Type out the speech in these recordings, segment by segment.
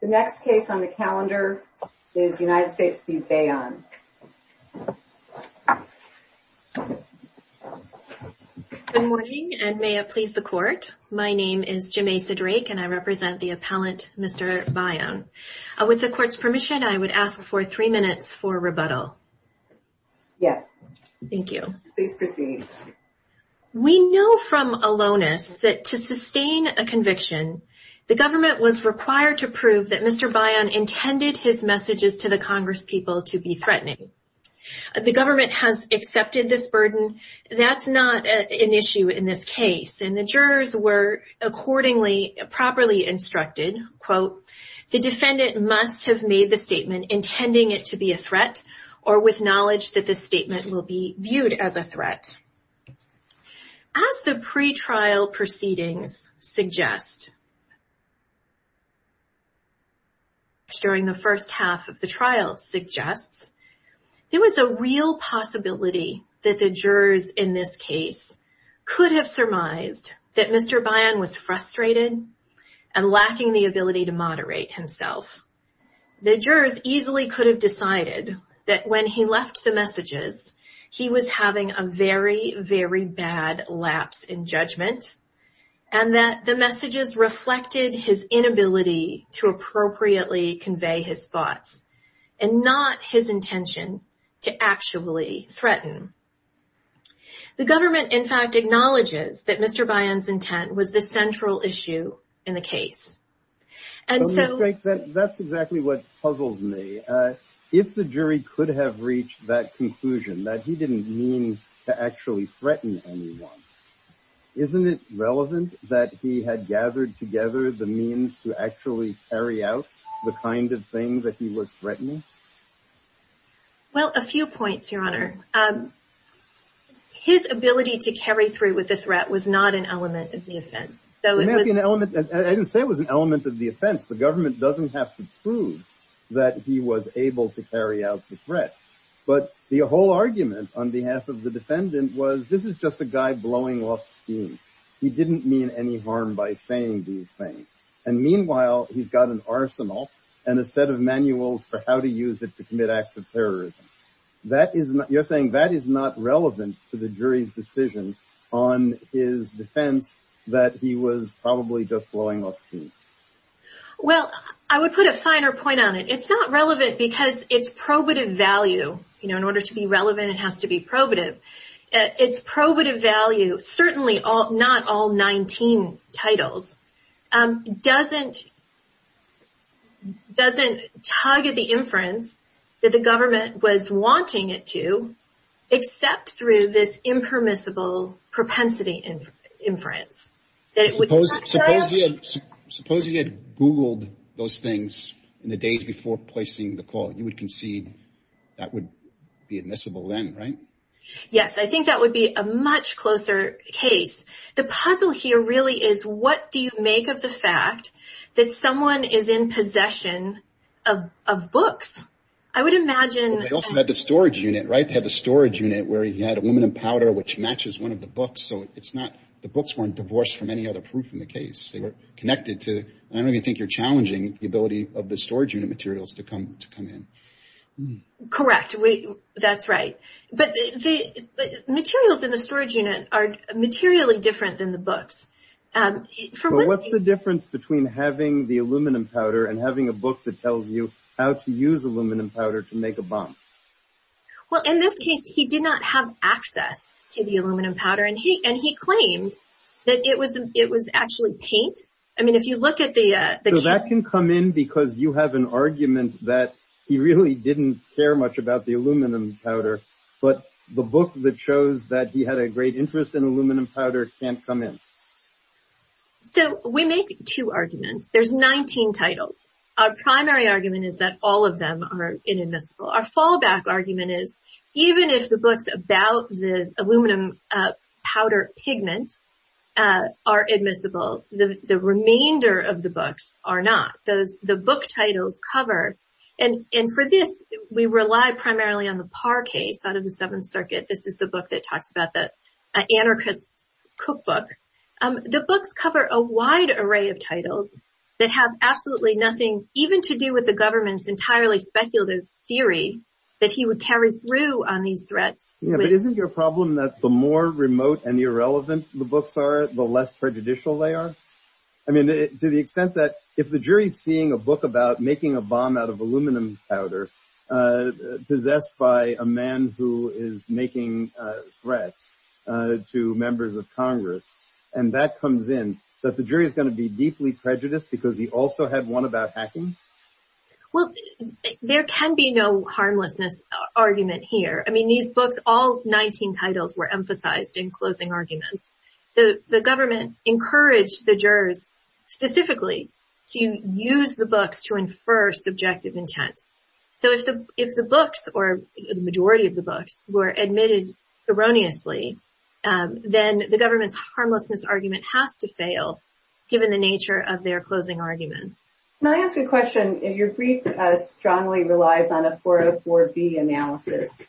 Good morning, and may it please the Court, my name is Jemaisa Drake and I represent the appellant Mr. Bayon. With the Court's permission, I would ask for three minutes for rebuttal. Yes. Thank you. Please proceed. We know from Alonis that to sustain a conviction, the government was required to prove that Mr. Bayon intended his messages to the Congress people to be threatening. The government has accepted this burden. That's not an issue in this case, and the jurors were accordingly properly instructed, quote, the defendant must have made the statement intending it to be a threat or with knowledge that this statement will be viewed as a threat. As the pre-trial proceedings suggest, during the first half of the trial suggests, there was a real possibility that the jurors in this case could have surmised that Mr. Bayon was frustrated and lacking the ability to moderate himself. The jurors easily could have decided that when he left the messages, he was having a very, very bad lapse in judgment, and that the messages reflected his inability to appropriately convey his thoughts and not his intention to actually threaten. The government, in fact, acknowledges that Mr. Bayon's intent was the central issue in the case. That's exactly what puzzles me. If the jury could have reached that conclusion that he didn't mean to actually threaten anyone, isn't it relevant that he had gathered together the means to actually carry out the kind of thing that he was threatening? Well, a few points, Your Honor. His ability to carry through with the threat was not an element of the offense. I didn't say it was an element of the offense. The government doesn't have to prove that he was able to carry out the threat. But the whole argument on behalf of the defendant was, this is just a guy blowing off steam. He didn't mean any harm by saying these things. And meanwhile, he's got an arsenal and a set of manuals for how to use it to commit acts of terrorism. You're not relevant to the jury's decision on his defense that he was probably just blowing off steam. Well, I would put a finer point on it. It's not relevant because it's probative value. You know, in order to be relevant, it has to be probative. It's probative value, certainly not all 19 titles, doesn't target the inference that the government was wanting it to, except through this impermissible propensity inference. Suppose he had Googled those things in the days before placing the call. You would concede that would be admissible then, right? Yes, I think that would be a much closer case. The make of the fact that someone is in possession of books, I would imagine... They also had the storage unit, right? They had the storage unit where he had aluminum powder, which matches one of the books. So it's not, the books weren't divorced from any other proof in the case. They were connected to, I don't even think you're challenging the ability of the storage unit materials to come in. Correct. That's right. But the materials in the storage unit are materially different than the books. What's the difference between having the aluminum powder and having a book that tells you how to use aluminum powder to make a bomb? Well, in this case, he did not have access to the aluminum powder and he claimed that it was actually paint. I mean, if you look at the... So that can come in because you have an argument that he really didn't care much about the aluminum powder, but the book that shows that he had a great interest in aluminum powder can't come in. So we make two arguments. There's 19 titles. Our primary argument is that all of them are inadmissible. Our fallback argument is, even if the books about the aluminum powder pigment are admissible, the remainder of the books are not. So the book titles cover... And for this, we rely primarily on the Parr case, out of the Seventh Circuit. This is the book that talks about that anarchist's cookbook. The books cover a wide array of titles that have absolutely nothing even to do with the government's entirely speculative theory that he would carry through on these threats. Yeah, but isn't your problem that the more remote and irrelevant the books are, the less prejudicial they are? I mean, to the extent that if the jury is seeing a book about making a bomb out of aluminum powder, possessed by a man who is making threats to members of Congress, and that comes in, that the jury is going to be deeply prejudiced because he also had one about hacking? Well, there can be no harmlessness argument here. I mean, these books, all 19 titles were emphasized in closing arguments. The government encouraged the jurors, specifically, to use the books to infer subjective intent. So if the books, or the majority of the books, were admitted erroneously, then the government's harmlessness argument has to fail, given the nature of their closing argument. Can I ask a question? Your brief strongly relies on a 404B analysis.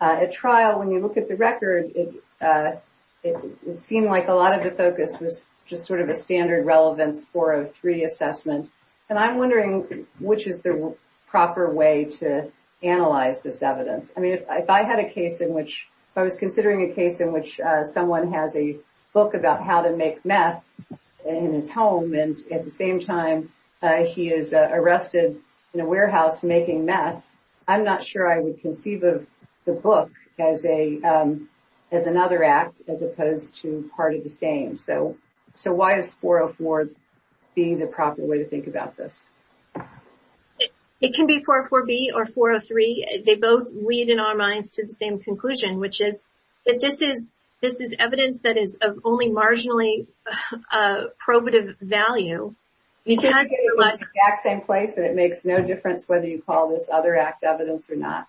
At trial, when you look at the record, it seemed like a lot of the focus was just sort of a standard relevance 403 assessment. And I'm wondering, which is the proper way to analyze this evidence? I mean, if I had a case in which, if I was considering a case in which someone has a book about how to make meth in his home, and at the same time, he is arrested in a warehouse making meth, I'm not sure I would conceive of the book as another act, as opposed to part of the same. So why is 404B the proper way to think about this? It can be 404B or 403. They both lead, in our minds, to the same conclusion, which is, that this is evidence that is of only marginally probative value. It's the exact same place, and it makes no difference whether you call this other act evidence or not.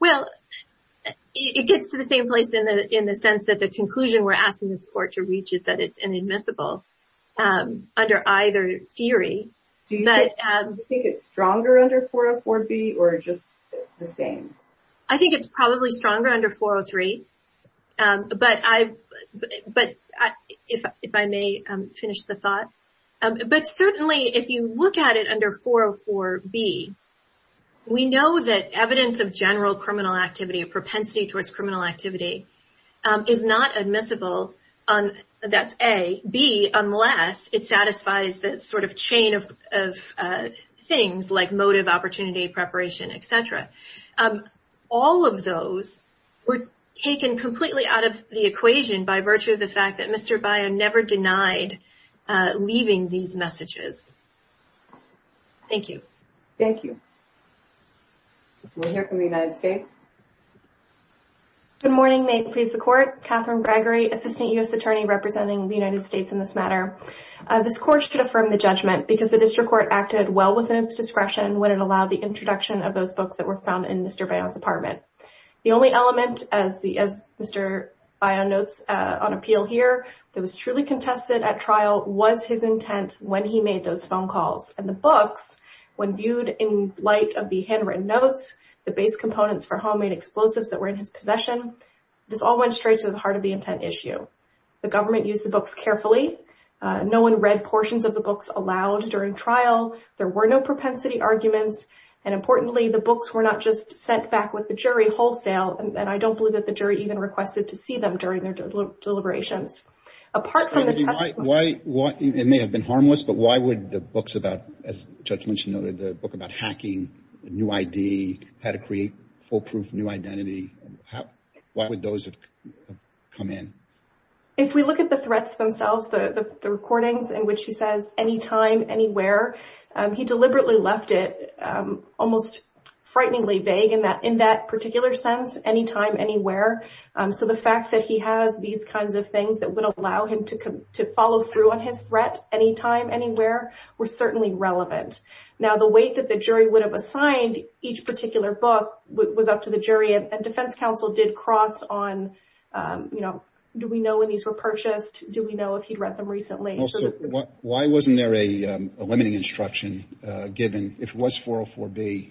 Well, it gets to the same place in the sense that the conclusion we're asking this court to reach is that it's inadmissible under either theory. Do you think it's stronger under 404B or just the same? I think it's probably stronger under 403, but if I may finish the thought. But certainly, if you look at it under 404B, we know that evidence of general criminal activity, of propensity towards criminal activity, is not admissible, that's A. B, unless it satisfies the sort of chain of things like motive, opportunity, preparation, etc. All of those were taken completely out of the equation by virtue of the fact that Thank you. We'll hear from the United States. Good morning. May it please the Court. Catherine Gregory, Assistant U.S. Attorney representing the United States in this matter. This Court should affirm the judgment because the District Court acted well within its discretion when it allowed the introduction of those books that were found in Mr. Bayon's apartment. The only element, as Mr. Bayon notes on appeal here, that was truly When viewed in light of the handwritten notes, the base components for homemade explosives that were in his possession, this all went straight to the heart of the intent issue. The government used the books carefully. No one read portions of the books aloud during trial. There were no propensity arguments, and importantly, the books were not just sent back with the jury wholesale, and I don't believe that the jury even requested to see them during their deliberations. Apart from why it may have been harmless, but why would the books about judgment, you know, the book about hacking a new ID, how to create foolproof new identity? Why would those come in? If we look at the threats themselves, the recordings in which he says anytime, anywhere, he deliberately left it almost frighteningly vague in that in that particular sense, anytime, anywhere. So the fact that he has these kinds of things that would allow him to come to follow through on his threat anytime, anywhere, were certainly relevant. Now, the weight that the jury would have assigned each particular book was up to the jury, and defense counsel did cross on, you know, do we know when these were purchased? Do we know if he'd read them recently? Why wasn't there a limiting instruction given if it was 404B?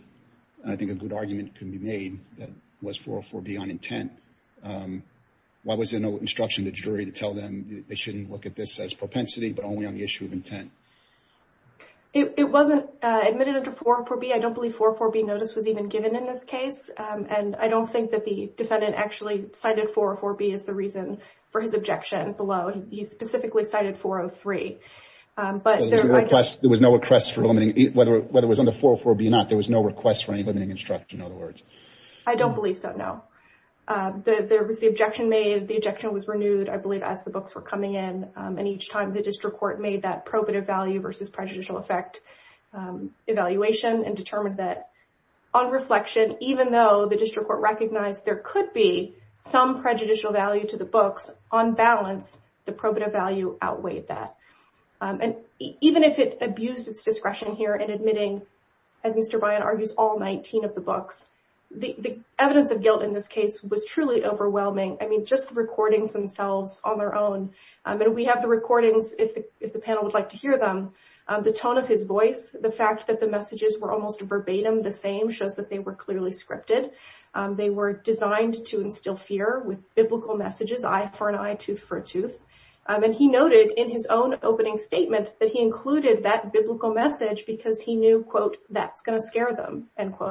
I think a good argument can be made that was 404B on intent. Why was there no instruction the jury to tell them they shouldn't look at this as propensity, but only on the issue of intent? It wasn't admitted under 404B. I don't believe 404B notice was even given in this case, and I don't think that the defendant actually cited 404B as the reason for his objection below. He specifically cited 403. But there was no request for limiting, whether it was under 404B or not, there was no request for any limiting instruction, in other words. I don't believe so, no. There was the objection made, the objection was renewed, I believe, as the books were coming in, and each time the district court made that probative value versus prejudicial effect evaluation and determined that on reflection, even though the district court recognized there could be some prejudicial value to the books, on balance, the probative value outweighed that. And even if it abused its discretion here in of the books, the evidence of guilt in this case was truly overwhelming. I mean, just the recordings themselves on their own, and we have the recordings, if the panel would like to hear them, the tone of his voice, the fact that the messages were almost verbatim the same, shows that they were clearly scripted. They were designed to instill fear with biblical messages, eye for an eye, tooth for a tooth, and he noted in his own opening statement that he included that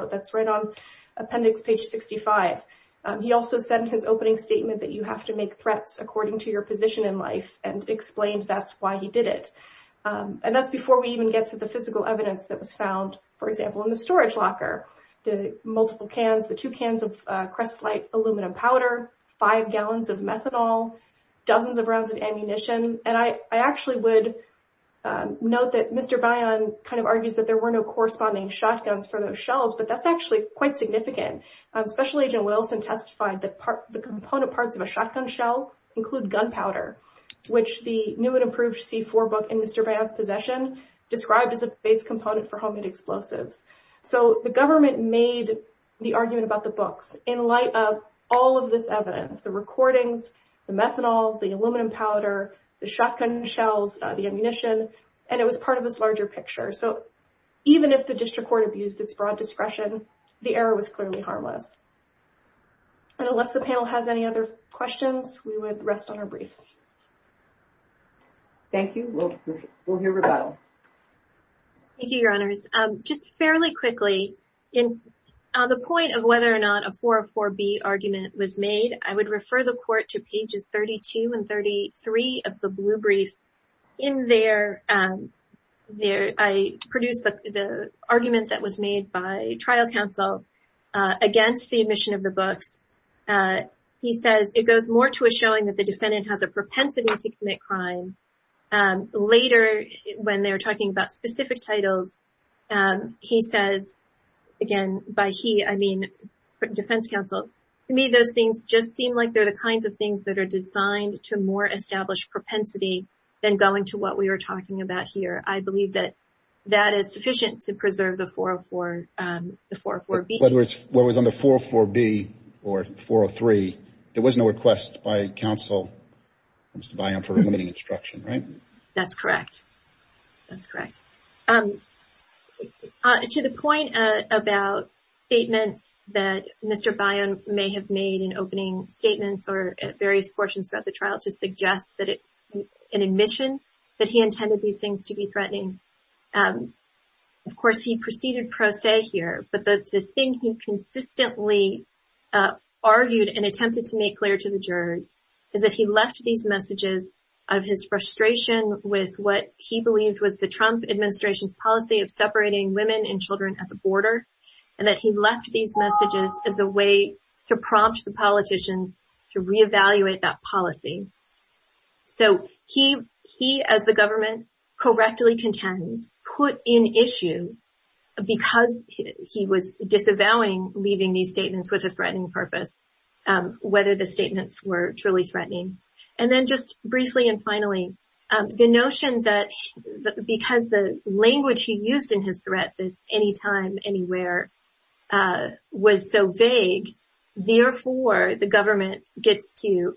that's right on appendix page 65. He also said in his opening statement that you have to make threats according to your position in life and explained that's why he did it. And that's before we even get to the physical evidence that was found, for example, in the storage locker. The multiple cans, the two cans of Crest Light aluminum powder, five gallons of methanol, dozens of rounds of ammunition, and I actually would note that Mr. Bayan kind of argues that there were no corresponding shotguns for those shells, but that's actually quite significant. Special Agent Wilson testified that the component parts of a shotgun shell include gunpowder, which the new and improved C4 book in Mr. Bayan's possession described as a base component for homemade explosives. So the government made the argument about the books in light of all of this evidence, the recordings, the methanol, the aluminum powder, the shotgun shells, the ammunition, and it was part of this larger picture. So even if the district court abused its broad discretion, the error was clearly harmless. And unless the panel has any other questions, we would rest on our brief. Thank you. We'll hear rebuttal. Thank you, Your Honors. Just fairly quickly, on the point of whether or not a 404B argument was made, I produced the argument that was made by trial counsel against the admission of the books. He says it goes more to a showing that the defendant has a propensity to commit crime. Later, when they were talking about specific titles, he says, again, by he, I mean defense counsel, to me those things just seem like they're the kinds of things that are designed to more establish propensity than going to what we were talking about here. I believe that that is sufficient to preserve the 404B. Whether it's what was on the 404B or 403, there was no request by counsel, Mr. Bayan, for limiting instruction, right? That's correct. That's correct. To the point about statements that Mr. Bayan may have made in opening statements or at various portions throughout the trial to suggest an admission that he intended these things to be threatening. Of course, he preceded pro se here, but the thing he consistently argued and attempted to make clear to the jurors is that he left these messages out of his frustration with what he believed was the Trump administration's policy of separating women and children at the border, and that he left these messages as a way to prompt the politician to reevaluate that policy. He, as the government correctly contends, put in issue because he was disavowing leaving these statements with a threatening purpose, whether the statements were truly threatening. Then just briefly and finally, the notion that because the language he used in his threat, this anytime, anywhere, was so vague, therefore the government gets to,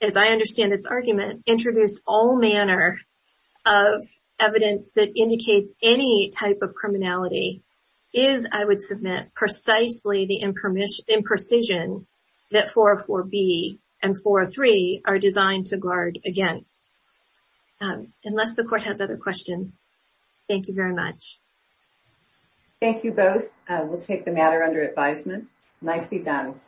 as I understand its argument, introduce all manner of evidence that indicates any type of criminality is, I would submit, precisely the imprecision that 404B and 403 are designed to guard against. Unless the court has other questions, thank you very much. Thank you both. We'll take the matter under advisement. Nicely done.